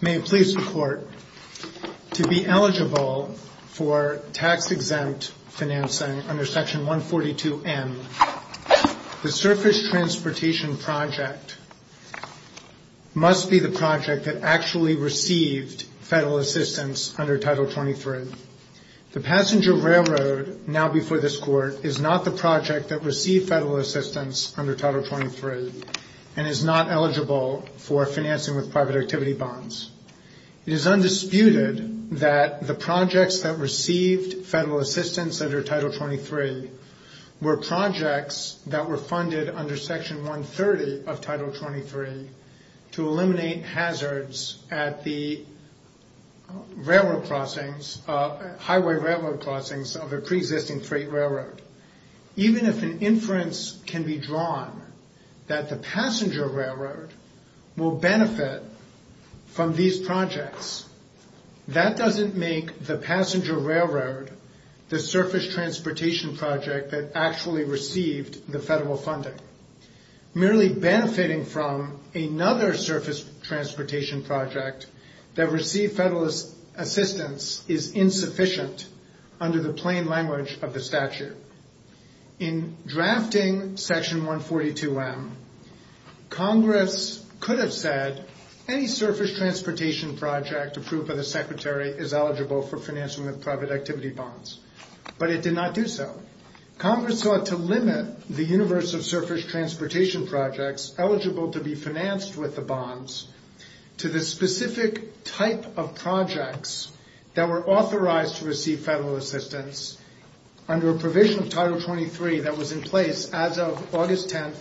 May it please the Court, to be eligible for tax-exempt financing under Section 142A of Section 142M, the surface transportation project must be the project that actually received federal assistance under Title 23. The passenger railroad now before this Court is not the project that received federal assistance under Title 23 and is not eligible for financing with private activity bonds. It is undisputed that the projects that received federal assistance under Title 23 were projects that were funded under Section 130 of Title 23 to eliminate hazards at the highway railroad crossings of a pre-existing freight railroad. Even if an inference can be drawn that the passenger railroad will benefit from these projects, that doesn't make the passenger railroad the surface transportation project that actually received the federal funding. Merely benefiting from another surface transportation project that received federal assistance is insufficient under the plain language of the statute. In fact, the Secretary is eligible for financing with private activity bonds, but it did not do so. Congress sought to limit the universe of surface transportation projects eligible to be financed with the bonds to the specific type of projects that were authorized to receive federal assistance under a provision of Title 23 that was in place as of August 10,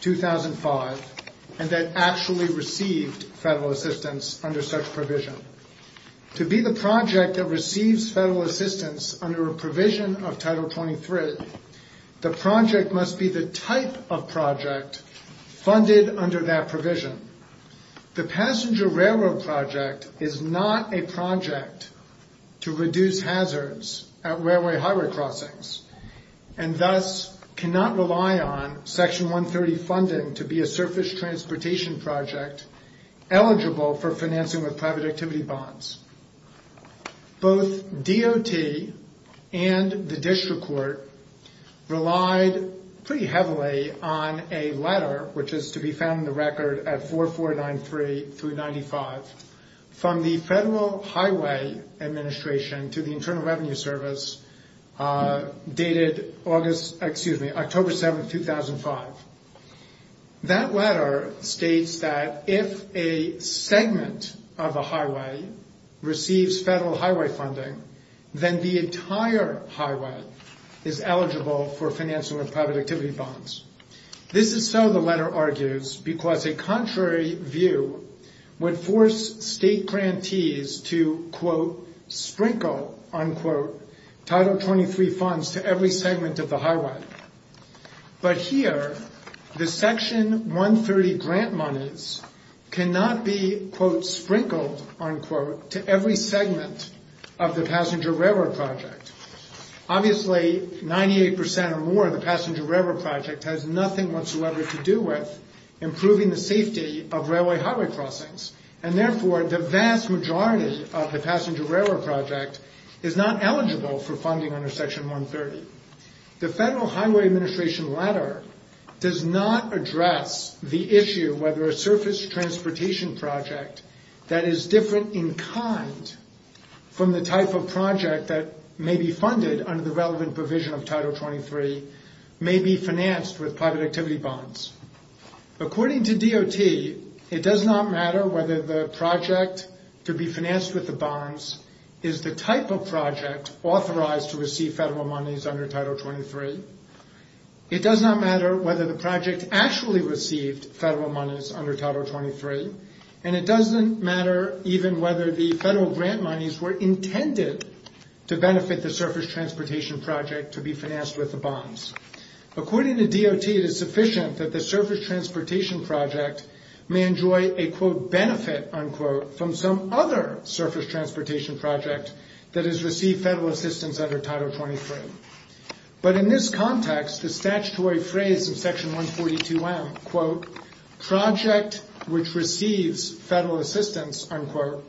2005, and that actually received federal assistance under such provision. To be the project that receives federal assistance under a provision of Title 23, the project must be the type of project funded under that provision. The passenger railroad project is not a project to reduce hazards at railway highway crossings and thus cannot rely on Section 130 funding to be a surface transportation project eligible for financing with private activity bonds. Both DOT and the District Court relied pretty heavily on a letter, which is to be found in the record at 4493-95, from the Federal Highway Administration to the Internal Revenue Service, dated October 7, 2005. That letter states that if a segment of a highway receives federal highway funding, then the entire highway is eligible for financing with private activity bonds. This is so, the letter argues, because a contrary view would force state grantees to, quote, sprinkle, unquote, Title 23 funds to every segment of the highway. But here, the Section 130 grant monies cannot be, quote, sprinkled, unquote, to every segment of the passenger railroad project. Obviously, 98% or more of the passenger railroad project has nothing whatsoever to do with improving the safety of railway highway crossings, and therefore, the vast majority of the passenger railroad project is not eligible for funding under Section 130. The Federal Highway Administration letter does not address the issue whether a surface transportation project that is different in kind from the type of project that may be funded under the relevant provision of Title 23 may be financed with private activity bonds. According to DOT, it does not matter whether the project to be financed with the bonds is the type of project authorized to receive federal monies under Title 23. It does not matter whether the project actually received federal monies under Title 23, and it doesn't matter even whether the federal grant monies were intended to benefit the that the surface transportation project may enjoy a, quote, benefit, unquote, from some other surface transportation project that has received federal assistance under Title 23. But in this context, the statutory phrase in Section 142M, quote, project which receives federal assistance, unquote,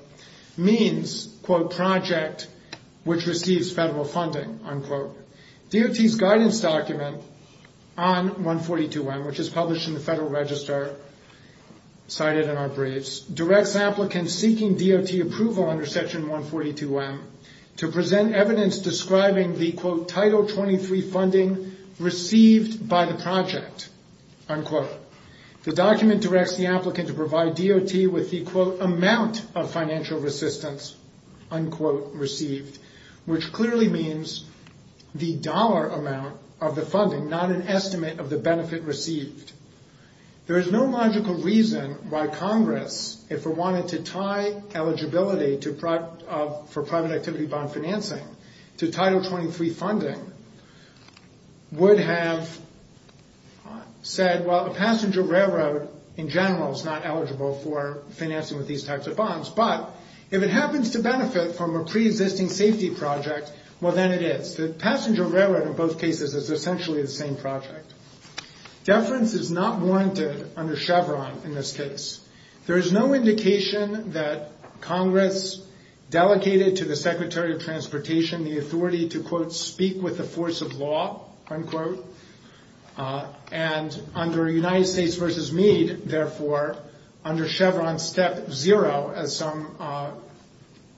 means, quote, project which receives federal funding, unquote. DOT's guidance document on 142M, which is published in the Federal Register, cited in our briefs, directs applicants seeking DOT approval under Section 142M to present evidence describing the, quote, Title 23 funding received by the project, unquote. The document directs the applicant to provide DOT with the, quote, amount of financial assistance, unquote, received, which clearly means the dollar amount of the funding, not an estimate of the benefit received. There is no logical reason why Congress, if it wanted to tie eligibility for private activity bond financing to Title 23 funding, would have said, well, a passenger railroad, in general, is not eligible for financing with these types of bonds. But if it is a pre-existing safety project, well, then it is. The passenger railroad, in both cases, is essentially the same project. Deference is not warranted under Chevron in this case. There is no indication that Congress delegated to the Secretary of Transportation the authority to, quote, speak with the force of law, unquote. And under United States v. Meade, therefore, under Chevron Step 0, as some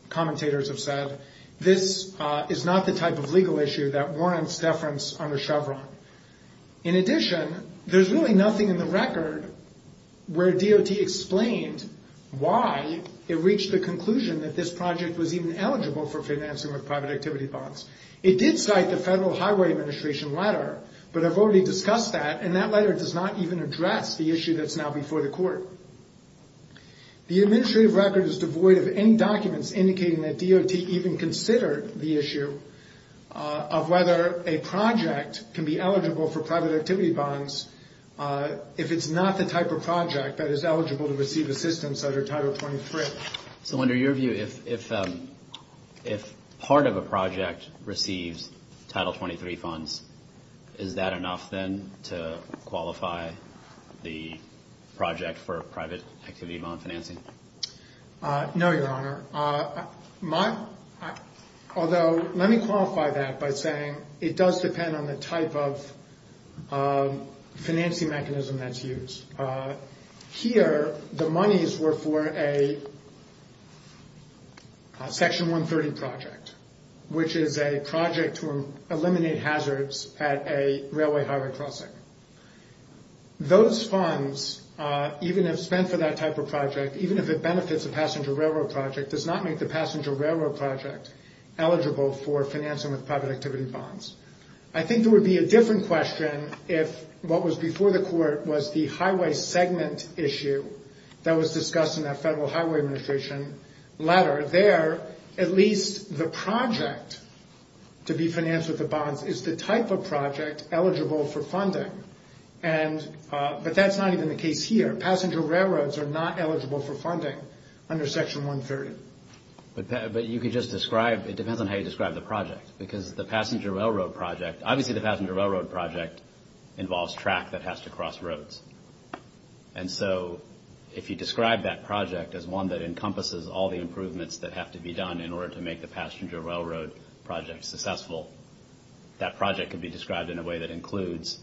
commentators have said, this is not the type of legal issue that warrants deference under Chevron. In addition, there is really nothing in the record where DOT explained why it reached the conclusion that this project was even eligible for financing with private activity bonds. It did cite the Federal Highway Administration letter, but I have already discussed that, and that letter does not even address the issue that is now before the Court. The administrative record is devoid of any documents indicating that DOT even considered the issue of whether a project can be eligible for private activity bonds if it's not the type of project that is eligible to receive assistance under Title 23. So under your view, if part of a project receives Title 23 funds, is that enough, then, to qualify the project for a private activity bond financing? No, Your Honor. Although, let me qualify that by saying it does depend on the type of financing mechanism that's used. Here, the monies were for a Section 130 project, which is a project to eliminate hazards at a railway highway crossing. Those funds, even if spent for that type of project, even if it benefits a passenger railroad project, does not make the passenger railroad project eligible for financing with private activity bonds. I think there would be a different question if what was before the Court was the highway segment issue that was discussed in that Federal Highway Administration letter. There, at least the project to be financed with the bonds is the type of project eligible for funding. But that's not even the case here. Passenger railroads are not eligible for funding under Section 130. But you could just describe, it depends on how you describe the project. Because the passenger railroad project, obviously the passenger railroad project involves track that has to cross roads. And so, if you describe that project as one that encompasses all the passenger railroad projects successful, that project could be described in a way that includes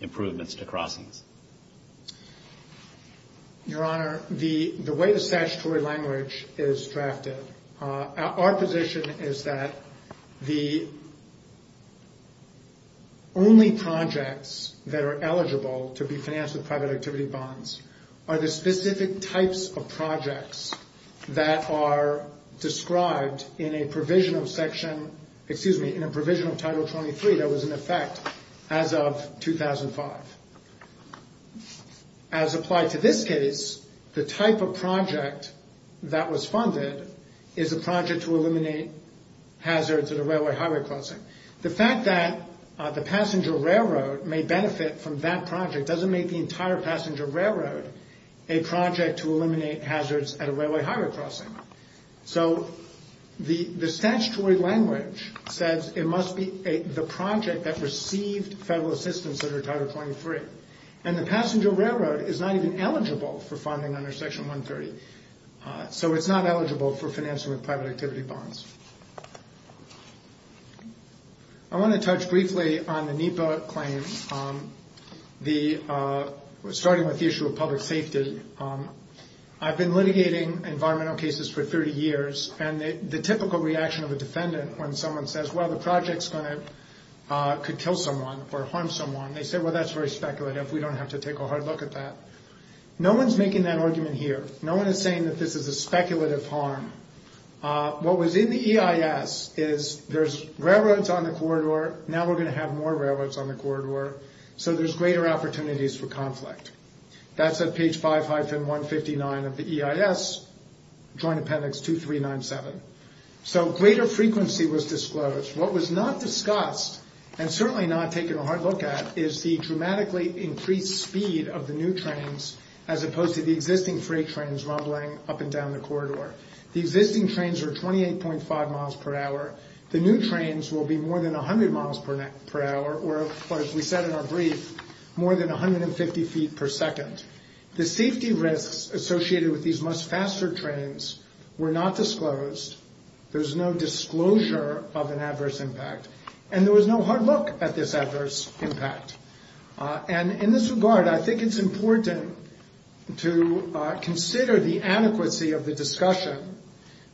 improvements to crossings. Your Honor, the way the statutory language is drafted, our position is that the only projects that are eligible to be financed with private activity bonds are the specific types of projects that are described in a provision of Section, excuse me, in a provision of Title 23 that was in effect as of 2005. As applied to this case, the type of project that was funded is a project to eliminate hazards at a railway highway crossing. The fact that the passenger railroad may benefit from that project doesn't make the entire passenger railroad a project to eliminate hazards at a railway highway crossing. So the statutory language says it must be the project that received federal assistance under Title 23. And the passenger railroad is not even eligible for funding under Section 130. So it's not eligible for financing with private activity bonds. I want to touch briefly on the NEPA claim, starting with the issue of public safety. I've been litigating environmental cases for 30 years, and the typical reaction of a defendant when someone says, well, the project could kill someone or harm someone, they say, well, that's very speculative. We don't have to take a hard look at that. No one's making that argument here. No one is saying that this is a speculative harm. What was in the EIS is there's railroads on the corridor, now we're going to have more railroads on the corridor, so there's greater opportunities for conflict. That's at page 5-159 of the EIS, Joint Appendix 2397. So greater frequency was disclosed. What was not discussed, and certainly not taken a hard look at, is the dramatically increased speed of the new trains, as opposed to the existing freight trains rumbling up and down the corridor. The existing trains are 28.5 miles per hour. The new trains will be more than 100 miles per hour, or as we said in our brief, more than 150 feet per second. The safety risks associated with these much faster trains were not disclosed. There's no disclosure of an adverse impact, and there was no hard look at this adverse impact. And in this regard, I think it's important to consider the adequacy of the discussion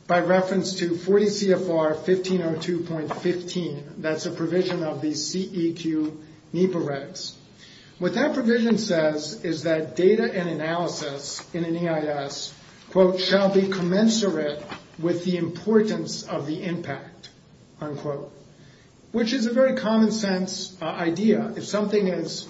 by reference to 40 CFR 1502.15. That's a provision of the CEQ NEPA regs. What that provision says is that data and analysis in an EIS, quote, shall be commensurate with the importance of the impact, unquote. Which is a very common sense idea. If something is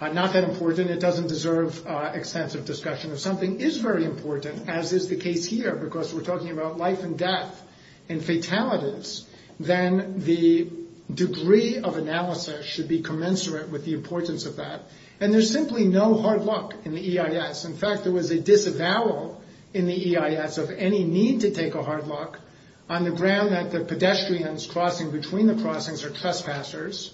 not that important, it doesn't deserve extensive discussion. If something is very important, as is the case here, because we're talking about life and death and fatalities, then the degree of analysis should be commensurate with the importance of that. And there's simply no hard look in the EIS. In fact, there was a disavowal in the EIS of any need to take a hard look on the ground that the pedestrians crossing between the crossings are trespassers,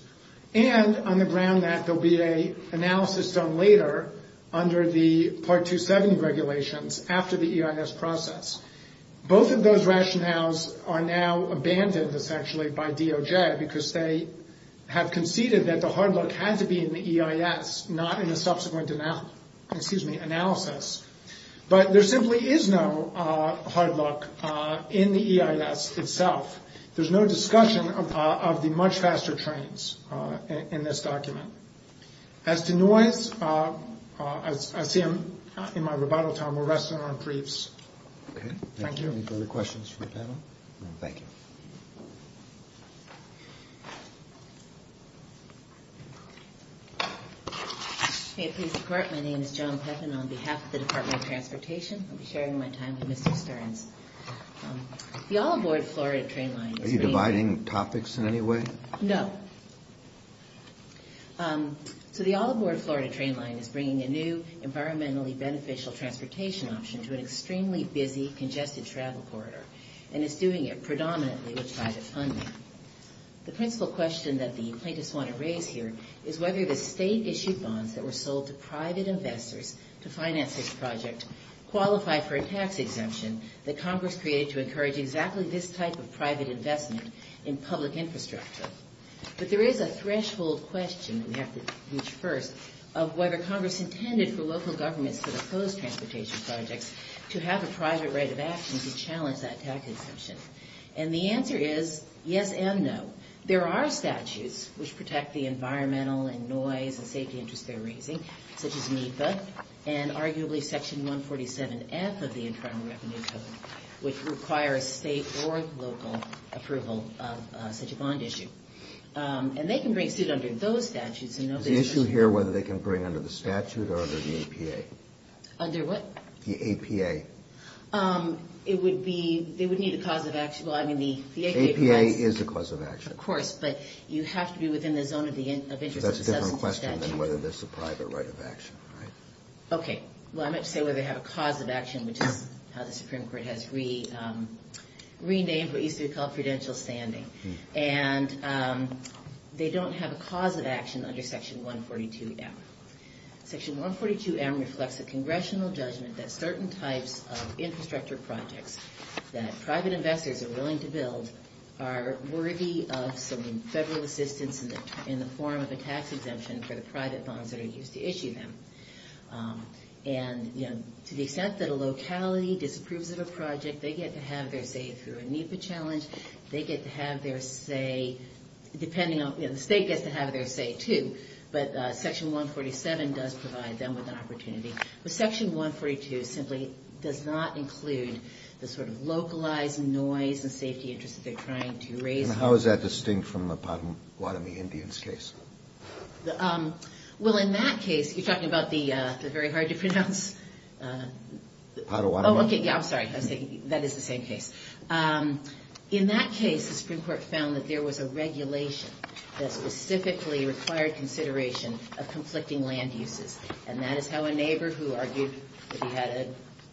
and on the ground that there'll be an analysis done later under the Part 270 regulations after the EIS process. Both of those rationales are now abandoned, essentially, by DOJ, because they have conceded that the hard look had to be in the EIS, not in the subsequent analysis. But there simply is no hard look in the EIS itself. There's no discussion of the much faster trains in this document. As to noise, I see I'm in my rebuttal time. We'll rest it on briefs. Thank you. Okay. Thank you. Any further questions from the panel? No? Thank you. May it please the Court, my name is John Pepin on behalf of the Department of Transportation. I'll be sharing my time with Mr. Stearns. The All Aboard Florida train line is bringing Are you dividing topics in any way? No. So the All Aboard Florida train line is bringing a new, environmentally beneficial transportation option to an extremely busy, congested travel corridor. And it's doing it predominantly with private funding. The principal question that the plaintiffs want to raise here is whether the state-issued bonds that were sold to private investors to finance this project qualify for a tax exemption that Congress created to encourage exactly this type of private investment in public infrastructure. But there is a threshold question that we have to reach first of whether Congress intended for local governments that oppose transportation projects to have a private right of action to challenge that tax exemption. And the answer is yes and no. There are statutes which protect the environmental and noise and safety interests they're raising, such as NEPA, and arguably Section 147F of the Internal Revenue Code, which requires state or local approval of such a bond issue. And they can bring a student under those statutes and nobody else. Is the issue here whether they can bring under the statute or under the APA? Under what? The APA. It would be, they would need a cause of action. Well, I mean, the APA provides... The APA is the cause of action. Of course, but you have to be within the zone of the interest assessment statute. That's a different question than whether there's a private right of action, right? Okay. Well, I meant to say whether they have a cause of action, which is how the Supreme Court has renamed what used to be called prudential standing. And they don't have a cause of action under Section 142M. Section 142M reflects a congressional judgment that certain types of infrastructure projects that private investors are willing to build are worthy of some federal assistance in the form of a tax exemption for the private bonds that are used to issue them. And, you know, to the extent that a locality disapproves of a project, they get to have their say through a NEPA challenge. They get to have their say, depending on, you know, the state gets to have their say, too. But Section 147 does provide them with an opportunity. But Section 142 simply does not include the sort of localized noise and safety interest that they're trying to raise. And how is that distinct from the Pottawatomie Indians case? Well, in that case, you're talking about the very hard to pronounce... Pottawatomie. Oh, okay. Yeah, I'm sorry. I was thinking, that is the same case. In that case, the Supreme Court has a regulation that specifically required consideration of conflicting land uses. And that is how a neighbor who argued that he had a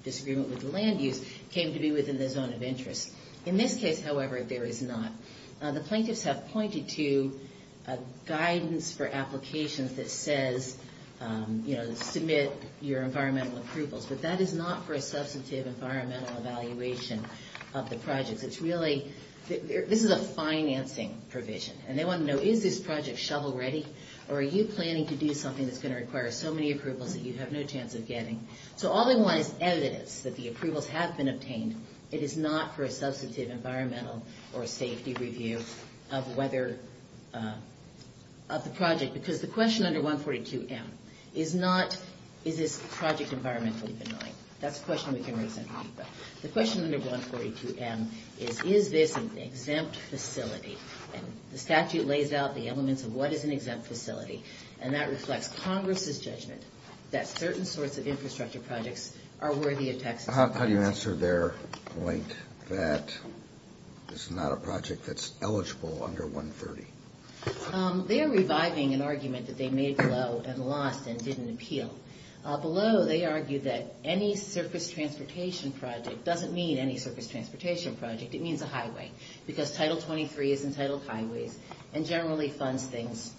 disagreement with the land use came to be within the zone of interest. In this case, however, there is not. The plaintiffs have pointed to guidance for applications that says, you know, submit your environmental approvals. But that is not for a substantive environmental evaluation of the projects. It's really... This is a financing provision. And they want to know, is this project shovel-ready? Or are you planning to do something that's going to require so many approvals that you have no chance of getting? So all they want is evidence that the approvals have been obtained. It is not for a substantive environmental or safety review of whether... of the project. Because the question under 142M is not, is this project environmentally benign? That's a question we can raise in 142M is, is this an exempt facility? And the statute lays out the elements of what is an exempt facility. And that reflects Congress's judgment that certain sorts of infrastructure projects are worthy of Texas... How do you answer their point that this is not a project that's eligible under 130? They are reviving an argument that they made below and lost and didn't appeal. Below, they argued that any surface transportation project doesn't mean any surface transportation project. It means a highway. Because Title 23 is entitled highways and generally funds things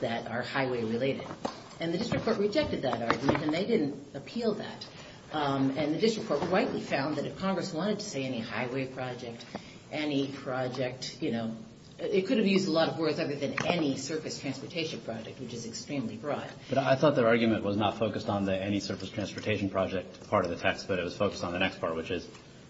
that are highway-related. And the district court rejected that argument, and they didn't appeal that. And the district court rightly found that if Congress wanted to say any highway project, any project, you know, it could have used a lot of words other than any surface transportation project, which is extremely broad. But I thought their argument was not focused on the any surface transportation project part of the text, but it was focused on the next part, which is,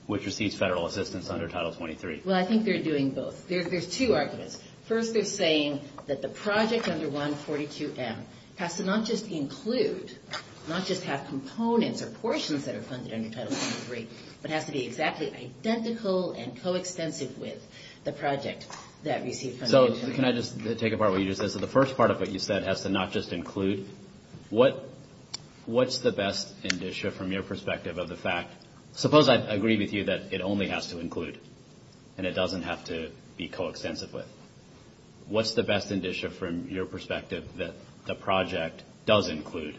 which receives federal assistance under Title 23. Well, I think they're doing both. There's two arguments. First, they're saying that the project under 142M has to not just include, not just have components or portions that are funded under Title 23, but has to be exactly identical and coextensive with the project that received funding under 142M. So can I just take apart what you just said? So the first part of what you said has to not just include. What's the best indicia from your perspective of the fact, suppose I agree with you that it only has to include and it doesn't have to be coextensive with. What's the best indicia from your perspective that the project does include?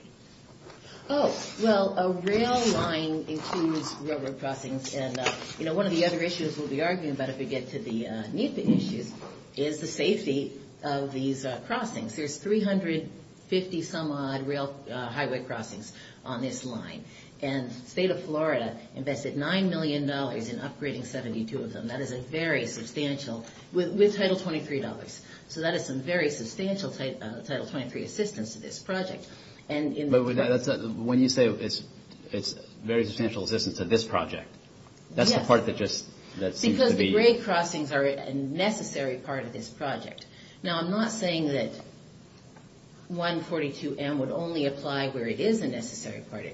Oh, well, a rail line includes railroad crossings. And, you know, one of the other issues we'll be arguing about if we get to the NEPA issues is the safety of these crossings. There's 350 some odd rail highway crossings on this line. And the state of Florida invested $9 million in upgrading 72 of them. That is a very substantial, with Title 23 dollars. So that is some very substantial Title 23 assistance to this project. But when you say it's very substantial assistance to this project, that's the part that just seems to be. Because the grade crossings are a necessary part of this project. Now, I'm not saying that 142M would only apply where it is a necessary part.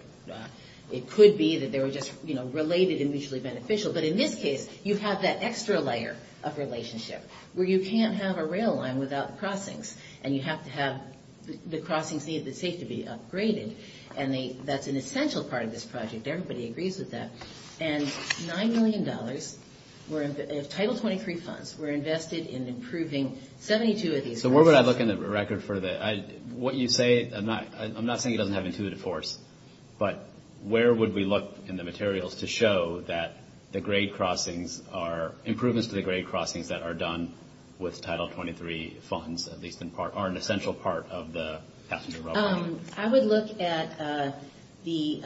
It could be that they were just, you know, related and mutually beneficial. But in this case, you have that extra layer of relationship where you can't have a rail line without crossings. And you have to have the crossings need to be upgraded. And that's an essential part of this project. Everybody $9 million of Title 23 funds were invested in improving 72 of these crossings. So where would I look in the record for the, what you say, I'm not saying it doesn't have intuitive force, but where would we look in the materials to show that the grade crossings are improvements to the grade crossings that are done with Title 23 funds, at least in part, are an essential part of the passenger rail line? I would look at the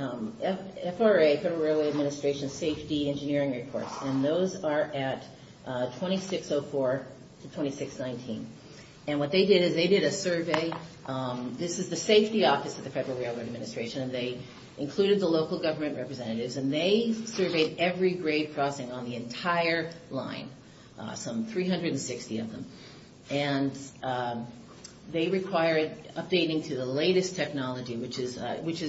FRA, Federal Railway Administration, safety engineering reports. And those are at 2604 to 2619. And what they did is they did a survey. This is the safety office of the Federal Railroad Administration. And they included the local government representatives. And they surveyed every grade crossing on the entire line, some 360 of them. And they required updating to the latest technology, which is,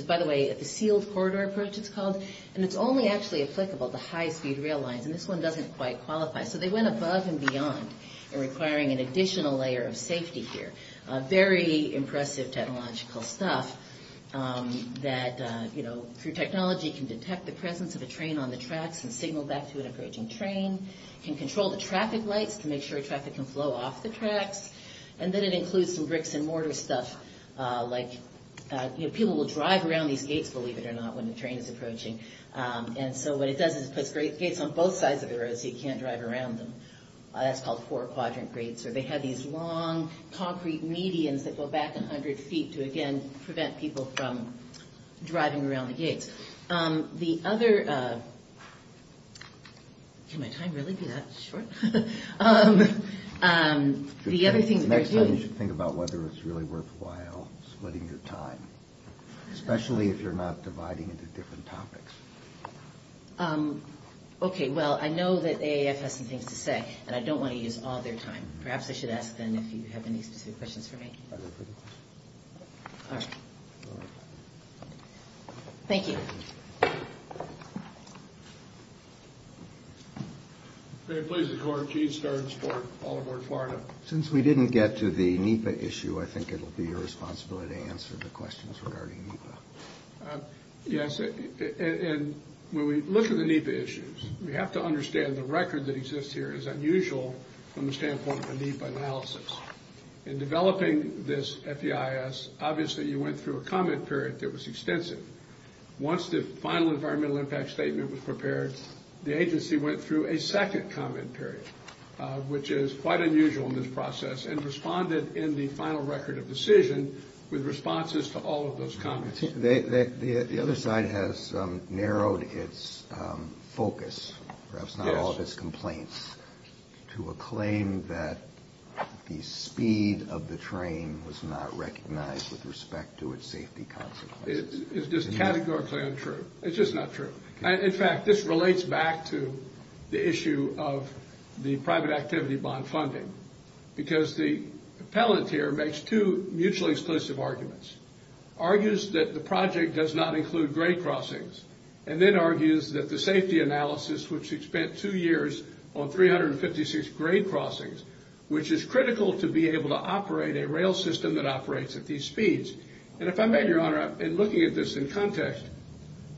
by the way, the sealed corridor approach it's called. And it's only actually applicable to high-speed rail lines. And this one doesn't quite qualify. So they went above and beyond in requiring an additional layer of safety here. Very impressive technological stuff that through technology can detect the presence of a train on the tracks and signal back to an approaching train, can control the traffic lights to make sure traffic can flow off the tracks. And then it includes some bricks and mortar stuff, like, you know, people will drive around these gates, believe it or not, when the train is approaching. And so what it does is it puts gates on both sides of the road so you can't drive around them. That's called four-quadrant gates, where they have these long concrete medians that go back 100 feet to, again, prevent people from driving around the gates. The other... Can my time really be that short? The other thing... Next time you should think about whether it's really worthwhile splitting your time, especially if you're not dividing into different topics. Okay. Well, I know that AAF has some things to say, and I don't want to use all their time. Perhaps I should ask them if you have any specific questions for me. All right. Thank you. May it please the Court, Gene Starnes for Baltimore, Florida. Since we didn't get to the NEPA issue, I think it will be your responsibility to answer the questions regarding NEPA. Yes, and when we look at the NEPA issues, we have to understand the record that exists here is unusual from the standpoint of a NEPA analysis. In developing this FEIS, obviously you went through a comment period that was extensive. Once the final environmental impact statement was prepared, the agency went through a second comment period, which is quite unusual in this process, and responded in the final record of decision with responses to all of those comments. The other side has narrowed its focus, perhaps not all of its complaints, to a claim that the speed of the train was not recognized with respect to its safety consequences. Is this categorically untrue? It's just not true. In fact, this relates back to the issue of the private activity bond funding, because the appellant here makes two mutually exclusive arguments, argues that the project does not include grade crossings, and then argues that the safety analysis, which spent two years on 356 grade crossings, which is critical to be able to operate a rail system that operates at these speeds. And if I may, Your Honor, in looking at this in context,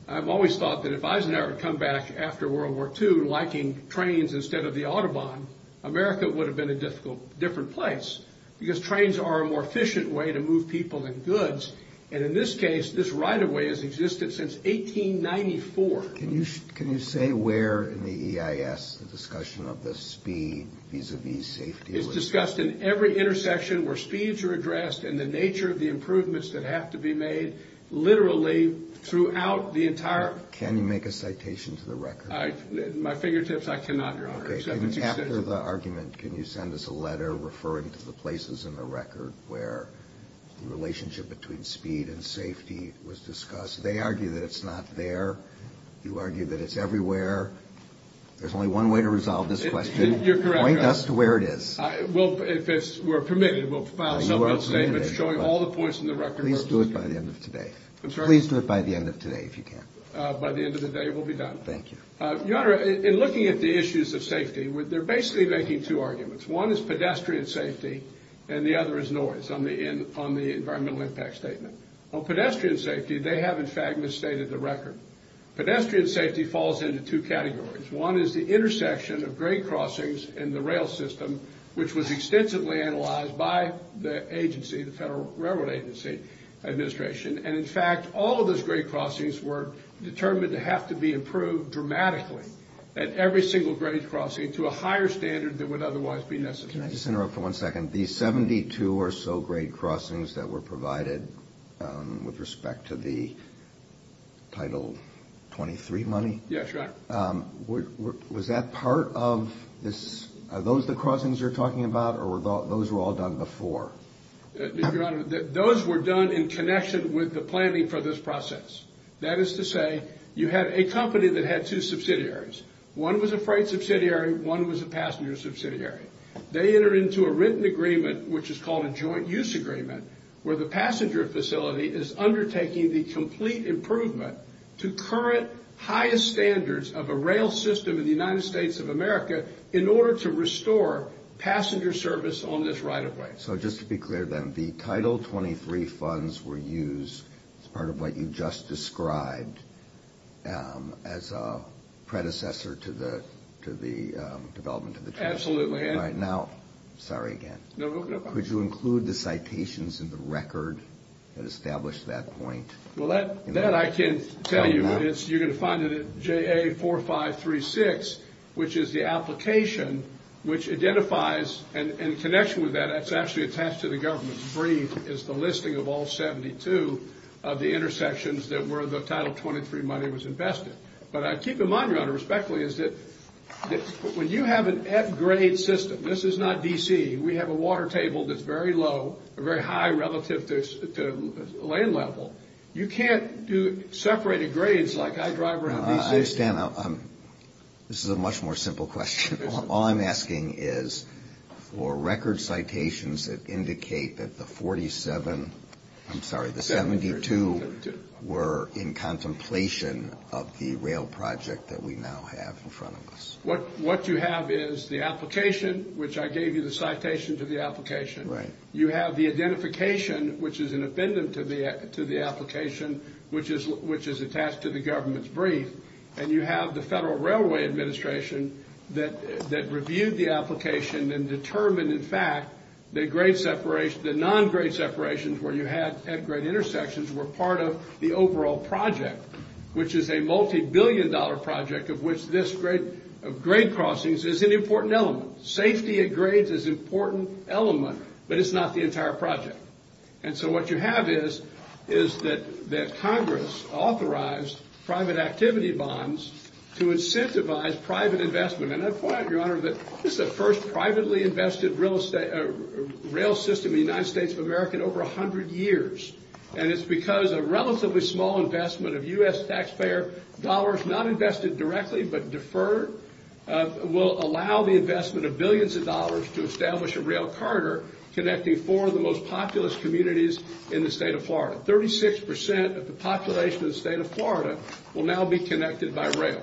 I've always thought that if Eisenhower had come back after World War II liking trains instead of the autobahn, America would have been a different place, because trains are a more efficient way to move people than goods, and in this case, this right of way has existed since 1894. Can you say where in the EIS the discussion of the speed vis-a-vis safety was discussed? It's discussed in every intersection where speeds are addressed and the nature of the improvements that have to be made literally throughout the entire... Can you make a citation to the record? At my fingertips, I cannot, Your Honor. Okay, and after the argument, can you send us a letter referring to the places in the record where the relationship between speed and safety was discussed? They argue that it's not there. You argue that it's everywhere. There's only one way to resolve this question. You're correct, Your Honor. Point us to where it is. Well, if we're permitted, we'll file a statement showing all the points in the record... Please do it by the end of today. I'm sorry? Please do it by the end of today if you can. By the end of the day, it will be done. Thank you. Your Honor, in looking at the issues of safety, they're basically making two arguments. One is pedestrian safety, and the other is noise on the environmental impact statement. On pedestrian safety, they have, in fact, misstated the record. Pedestrian safety falls into two categories. One is the intersection of grade crossings in the rail system, which was extensively analyzed by the agency, the Federal Railroad Agency Administration. And, in fact, all of those grade crossings were determined to have to be improved dramatically at every single grade crossing to a higher standard than would otherwise be necessary. Can I just interrupt for one second? The 72 or so grade crossings that were provided with respect to the Title 23 money? Yes, Your Honor. Was that part of this? Are those the crossings you're talking about, or those were all done before? Your Honor, those were done in connection with the planning for this process. That is to say, you had a company that had two subsidiaries. One was a freight subsidiary. One was a passenger subsidiary. They entered into a written agreement, which is called a joint use agreement, where the passenger facility is undertaking the complete improvement to current highest standards of a rail system in the United States of America in order to restore passenger service on this right-of-way. So just to be clear, then, the Title 23 funds were used as part of what you just described Absolutely. Now, sorry again. Could you include the citations in the record that established that point? Well, that I can tell you. You're going to find it at JA4536, which is the application which identifies, and in connection with that, it's actually attached to the government's brief, is the listing of all 72 of the intersections where the Title 23 money was invested. But I keep in mind, Your Honor, respectfully, is that when you have an F-grade system, this is not D.C. We have a water table that's very low or very high relative to land level. You can't do separated grades like I drive around D.C. Stan, this is a much more simple question. All I'm asking is for record citations that indicate that the 47, I'm sorry, the 72 were in contemplation of the rail project that we now have in front of us. What you have is the application, which I gave you the citation to the application. Right. You have the identification, which is independent to the application, which is attached to the government's brief, and you have the Federal Railway Administration that reviewed the application and determined, in fact, the grade separation, the non-grade separations where you had F-grade intersections were part of the overall project, which is a multibillion-dollar project of which this grade crossings is an important element. Safety at grades is an important element, but it's not the entire project. And so what you have is that Congress authorized private activity bonds to incentivize private investment. And I point out, Your Honor, that this is the first privately invested rail system in the United States of America in over 100 years, and it's because a relatively small investment of U.S. taxpayer dollars, not invested directly but deferred, will allow the investment of billions of dollars to establish a rail corridor connecting four of the most populous communities in the state of Florida. Thirty-six percent of the population of the state of Florida will now be connected by rail.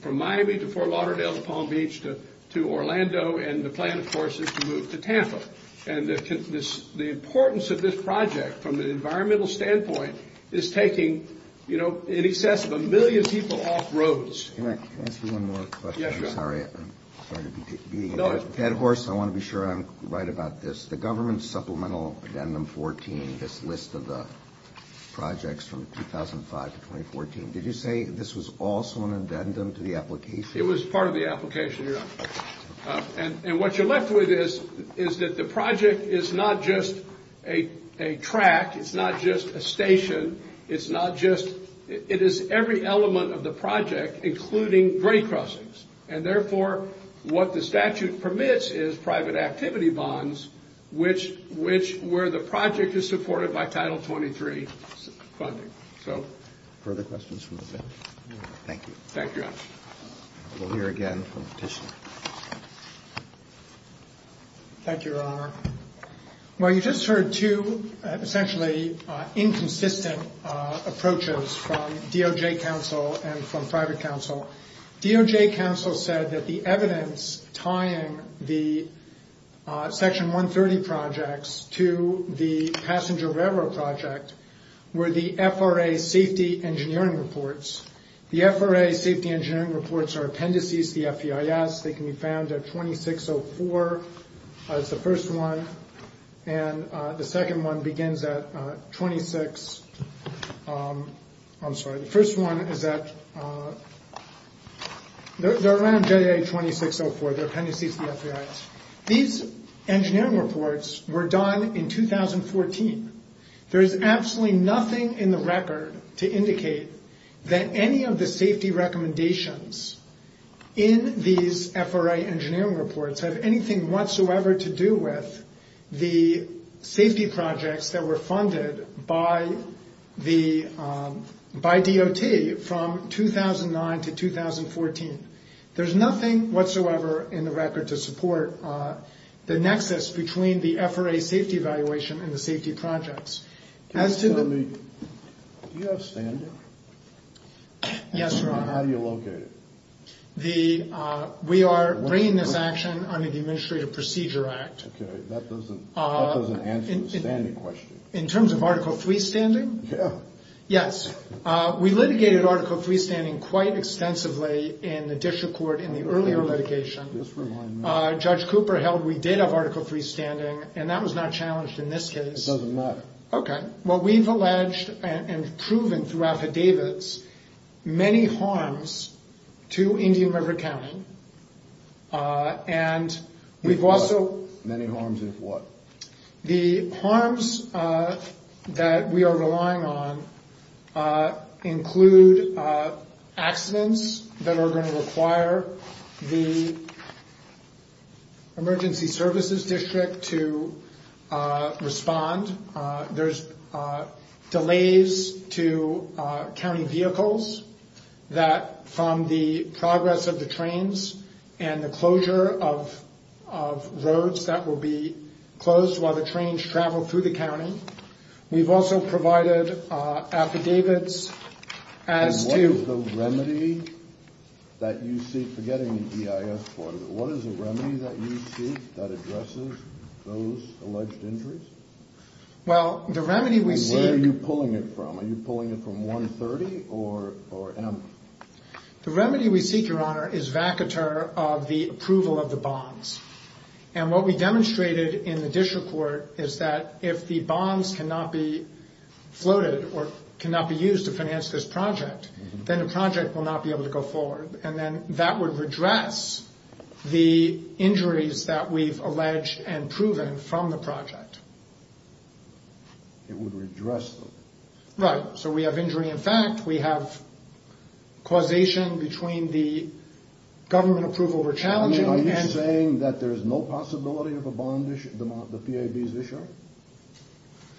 From Miami to Fort Lauderdale to Palm Beach to Orlando, and the plan, of course, is to move to Tampa. And the importance of this project from an environmental standpoint is taking, you know, in excess of a million people off roads. Can I ask you one more question? Yes, Your Honor. I'm sorry. I'm sorry to be beating a dead horse. I want to be sure I'm right about this. The government's Supplemental Addendum 14, this list of the projects from 2005 to 2014, did you say this was also an addendum to the application? It was part of the application, Your Honor. And what you're left with is that the project is not just a track. It's not just a station. It's not just – it is every element of the project, including grade crossings. And therefore, what the statute permits is private activity bonds, which – where the project is supported by Title 23 funding. So, further questions from the bench? Thank you. Thank you, Your Honor. We'll hear again from Petitioner. Thank you, Your Honor. Well, you just heard two essentially inconsistent approaches from DOJ counsel and from private counsel. DOJ counsel said that the evidence tying the Section 130 projects to the passenger railroad project were the FRA safety engineering reports. The FRA safety engineering reports are appendices to the FEIS. They can be found at 2604. That's the first one. And the second one begins at 26 – I'm sorry, the first one is at – they're around J.A. 2604. They're appendices to the FEIS. These engineering reports were done in 2014. There is absolutely nothing in the record to indicate that any of the safety recommendations in these FRA engineering reports have anything whatsoever to do with the safety projects that were funded by the – by DOT from 2009 to 2014. There's nothing whatsoever in the record to support the nexus between the FRA safety evaluation and the safety projects. Can you tell me – do you have standing? Yes, Your Honor. And how do you locate it? The – we are bringing this action under the Administrative Procedure Act. Okay. That doesn't answer the standing question. In terms of Article III standing? Yeah. Yes. We litigated Article III standing quite extensively in the district court in the earlier litigation. Just remind me. Judge Cooper held we did have Article III standing, and that was not challenged in this case. It doesn't matter. Okay. Well, we've alleged and proven through affidavits many harms to Indian River County, and we've also – Many harms of what? The harms that we are relying on include accidents that are going to require the emergency services district to respond. There's delays to county vehicles that from the progress of the trains and the closure of roads that will be closed while the trains travel through the county. We've also provided affidavits as to – And what is the remedy that you seek – forgetting the EIS part of it – What is the remedy that you seek that addresses those alleged injuries? Well, the remedy we seek – Where are you pulling it from? Are you pulling it from 130 or M? The remedy we seek, Your Honor, is vacateur of the approval of the bonds. And what we demonstrated in the district court is that if the bonds cannot be floated or cannot be used to finance this project, then the project will not be able to go forward. And then that would redress the injuries that we've alleged and proven from the project. It would redress them. Right. So we have injury in fact. We have causation between the government approval we're challenging and – I mean, are you saying that there's no possibility of a bond issue – the PAB's issue?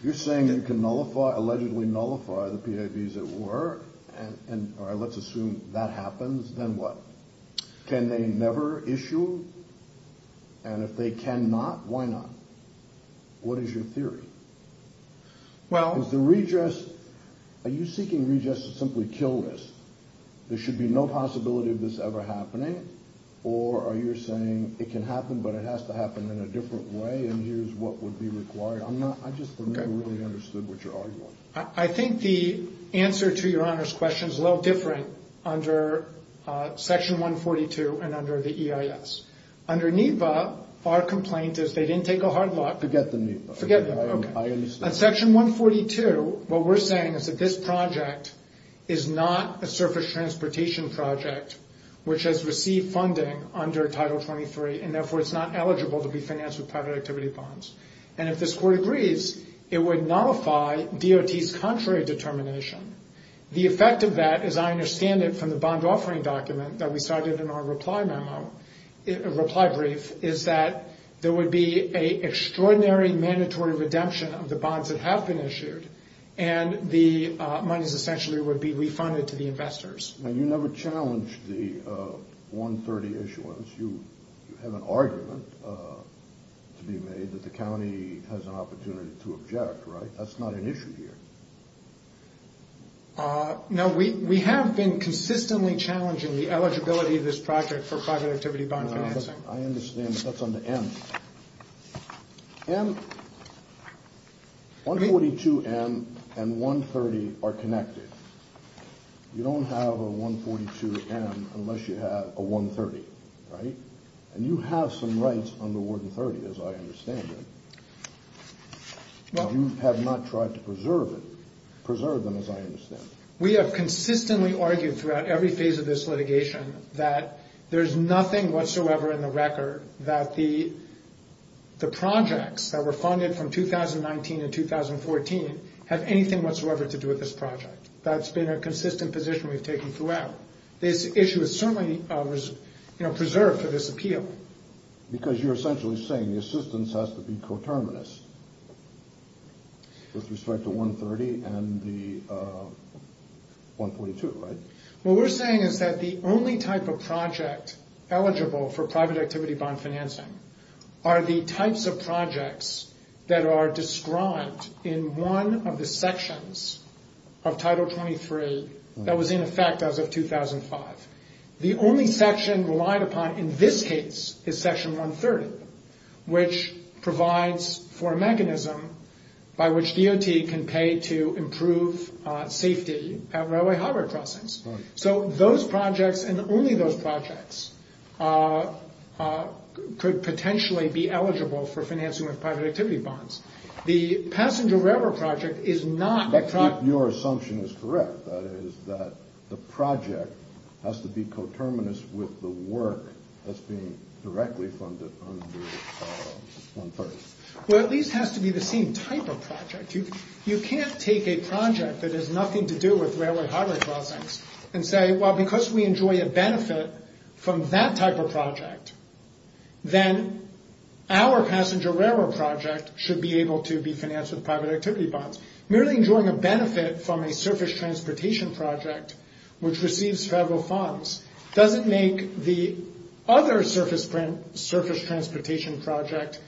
You're saying you can nullify – allegedly nullify the PAB's at work, and – all right, let's assume that happens, then what? Can they never issue? And if they cannot, why not? What is your theory? Well – Is the redress – are you seeking redress to simply kill this? There should be no possibility of this ever happening, or are you saying it can happen but it has to happen in a different way, and here's what would be required? I'm not – I just don't really understand what you're arguing. I think the answer to Your Honor's question is a little different under Section 142 and under the EIS. Under NEPA, our complaint is they didn't take a hard look – Forget the NEPA. Forget the – okay. I understand. On Section 142, what we're saying is that this project is not a surface transportation project, which has received funding under Title 23, and therefore it's not eligible to be financed with private activity bonds. And if this Court agrees, it would nullify DOT's contrary determination. The effect of that, as I understand it from the bond offering document that we cited in our reply memo – reply brief, is that there would be an extraordinary mandatory redemption of the bonds that have been issued, and the monies essentially would be refunded to the investors. Now, you never challenged the 130 issuance. You have an argument to be made that the county has an opportunity to object, right? That's not an issue here. No, we have been consistently challenging the eligibility of this project for private activity bond financing. I understand, but that's under M. M – 142M and 130 are connected. You don't have a 142M unless you have a 130, right? And you have some rights under Warden 30, as I understand it. You have not tried to preserve it – preserve them, as I understand it. We have consistently argued throughout every phase of this litigation that there is nothing whatsoever in the record that the projects that were funded from 2019 and 2014 have anything whatsoever to do with this project. That's been a consistent position we've taken throughout. This issue is certainly preserved for this appeal. Because you're essentially saying the assistance has to be coterminous with respect to 130 and the 142, right? What we're saying is that the only type of project eligible for private activity bond financing are the types of projects that are described in one of the sections of Title 23 that was in effect as of 2005. The only section relied upon in this case is Section 130, which provides for a mechanism by which DOT can pay to improve safety at railway harbor crossings. So those projects and only those projects could potentially be eligible for financing with private activity bonds. The passenger railroad project is not – Your assumption is correct. That is that the project has to be coterminous with the work that's being directly funded under 130. Well, it at least has to be the same type of project. You can't take a project that has nothing to do with railway harbor crossings and say, well, because we enjoy a benefit from that type of project, then our passenger railroad project should be able to be financed with private activity bonds. Merely enjoying a benefit from a surface transportation project, which receives federal funds, doesn't make the other surface transportation project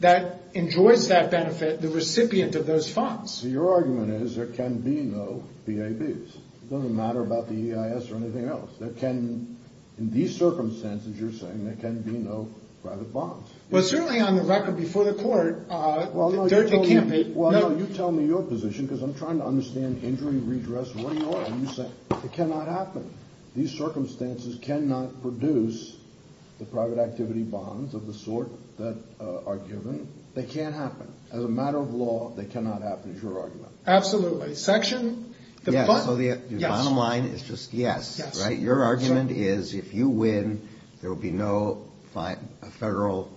that enjoys that benefit the recipient of those funds. So your argument is there can be no PABs. It doesn't matter about the EIS or anything else. There can – in these circumstances, you're saying, there can be no private bonds. Well, certainly on the record before the court, they can't be – Well, no, you tell me your position because I'm trying to understand injury redress. What are you arguing? You're saying it cannot happen. These circumstances cannot produce the private activity bonds of the sort that are given. They can't happen. As a matter of law, they cannot happen is your argument. Absolutely. Section – Yes, so the bottom line is just yes, right? Your argument is if you win, there will be no federal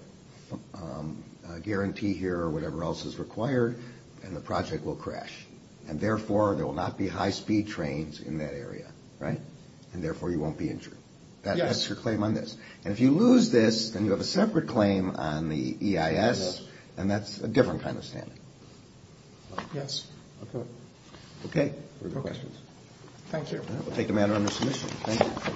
guarantee here or whatever else is required, and the project will crash. And therefore, there will not be high-speed trains in that area, right? And therefore, you won't be injured. Yes. That's your claim on this. And if you lose this, then you have a separate claim on the EIS, and that's a different kind of standard. Yes. Okay. Okay. No questions. Thank you. We'll take the matter under submission. Thank you.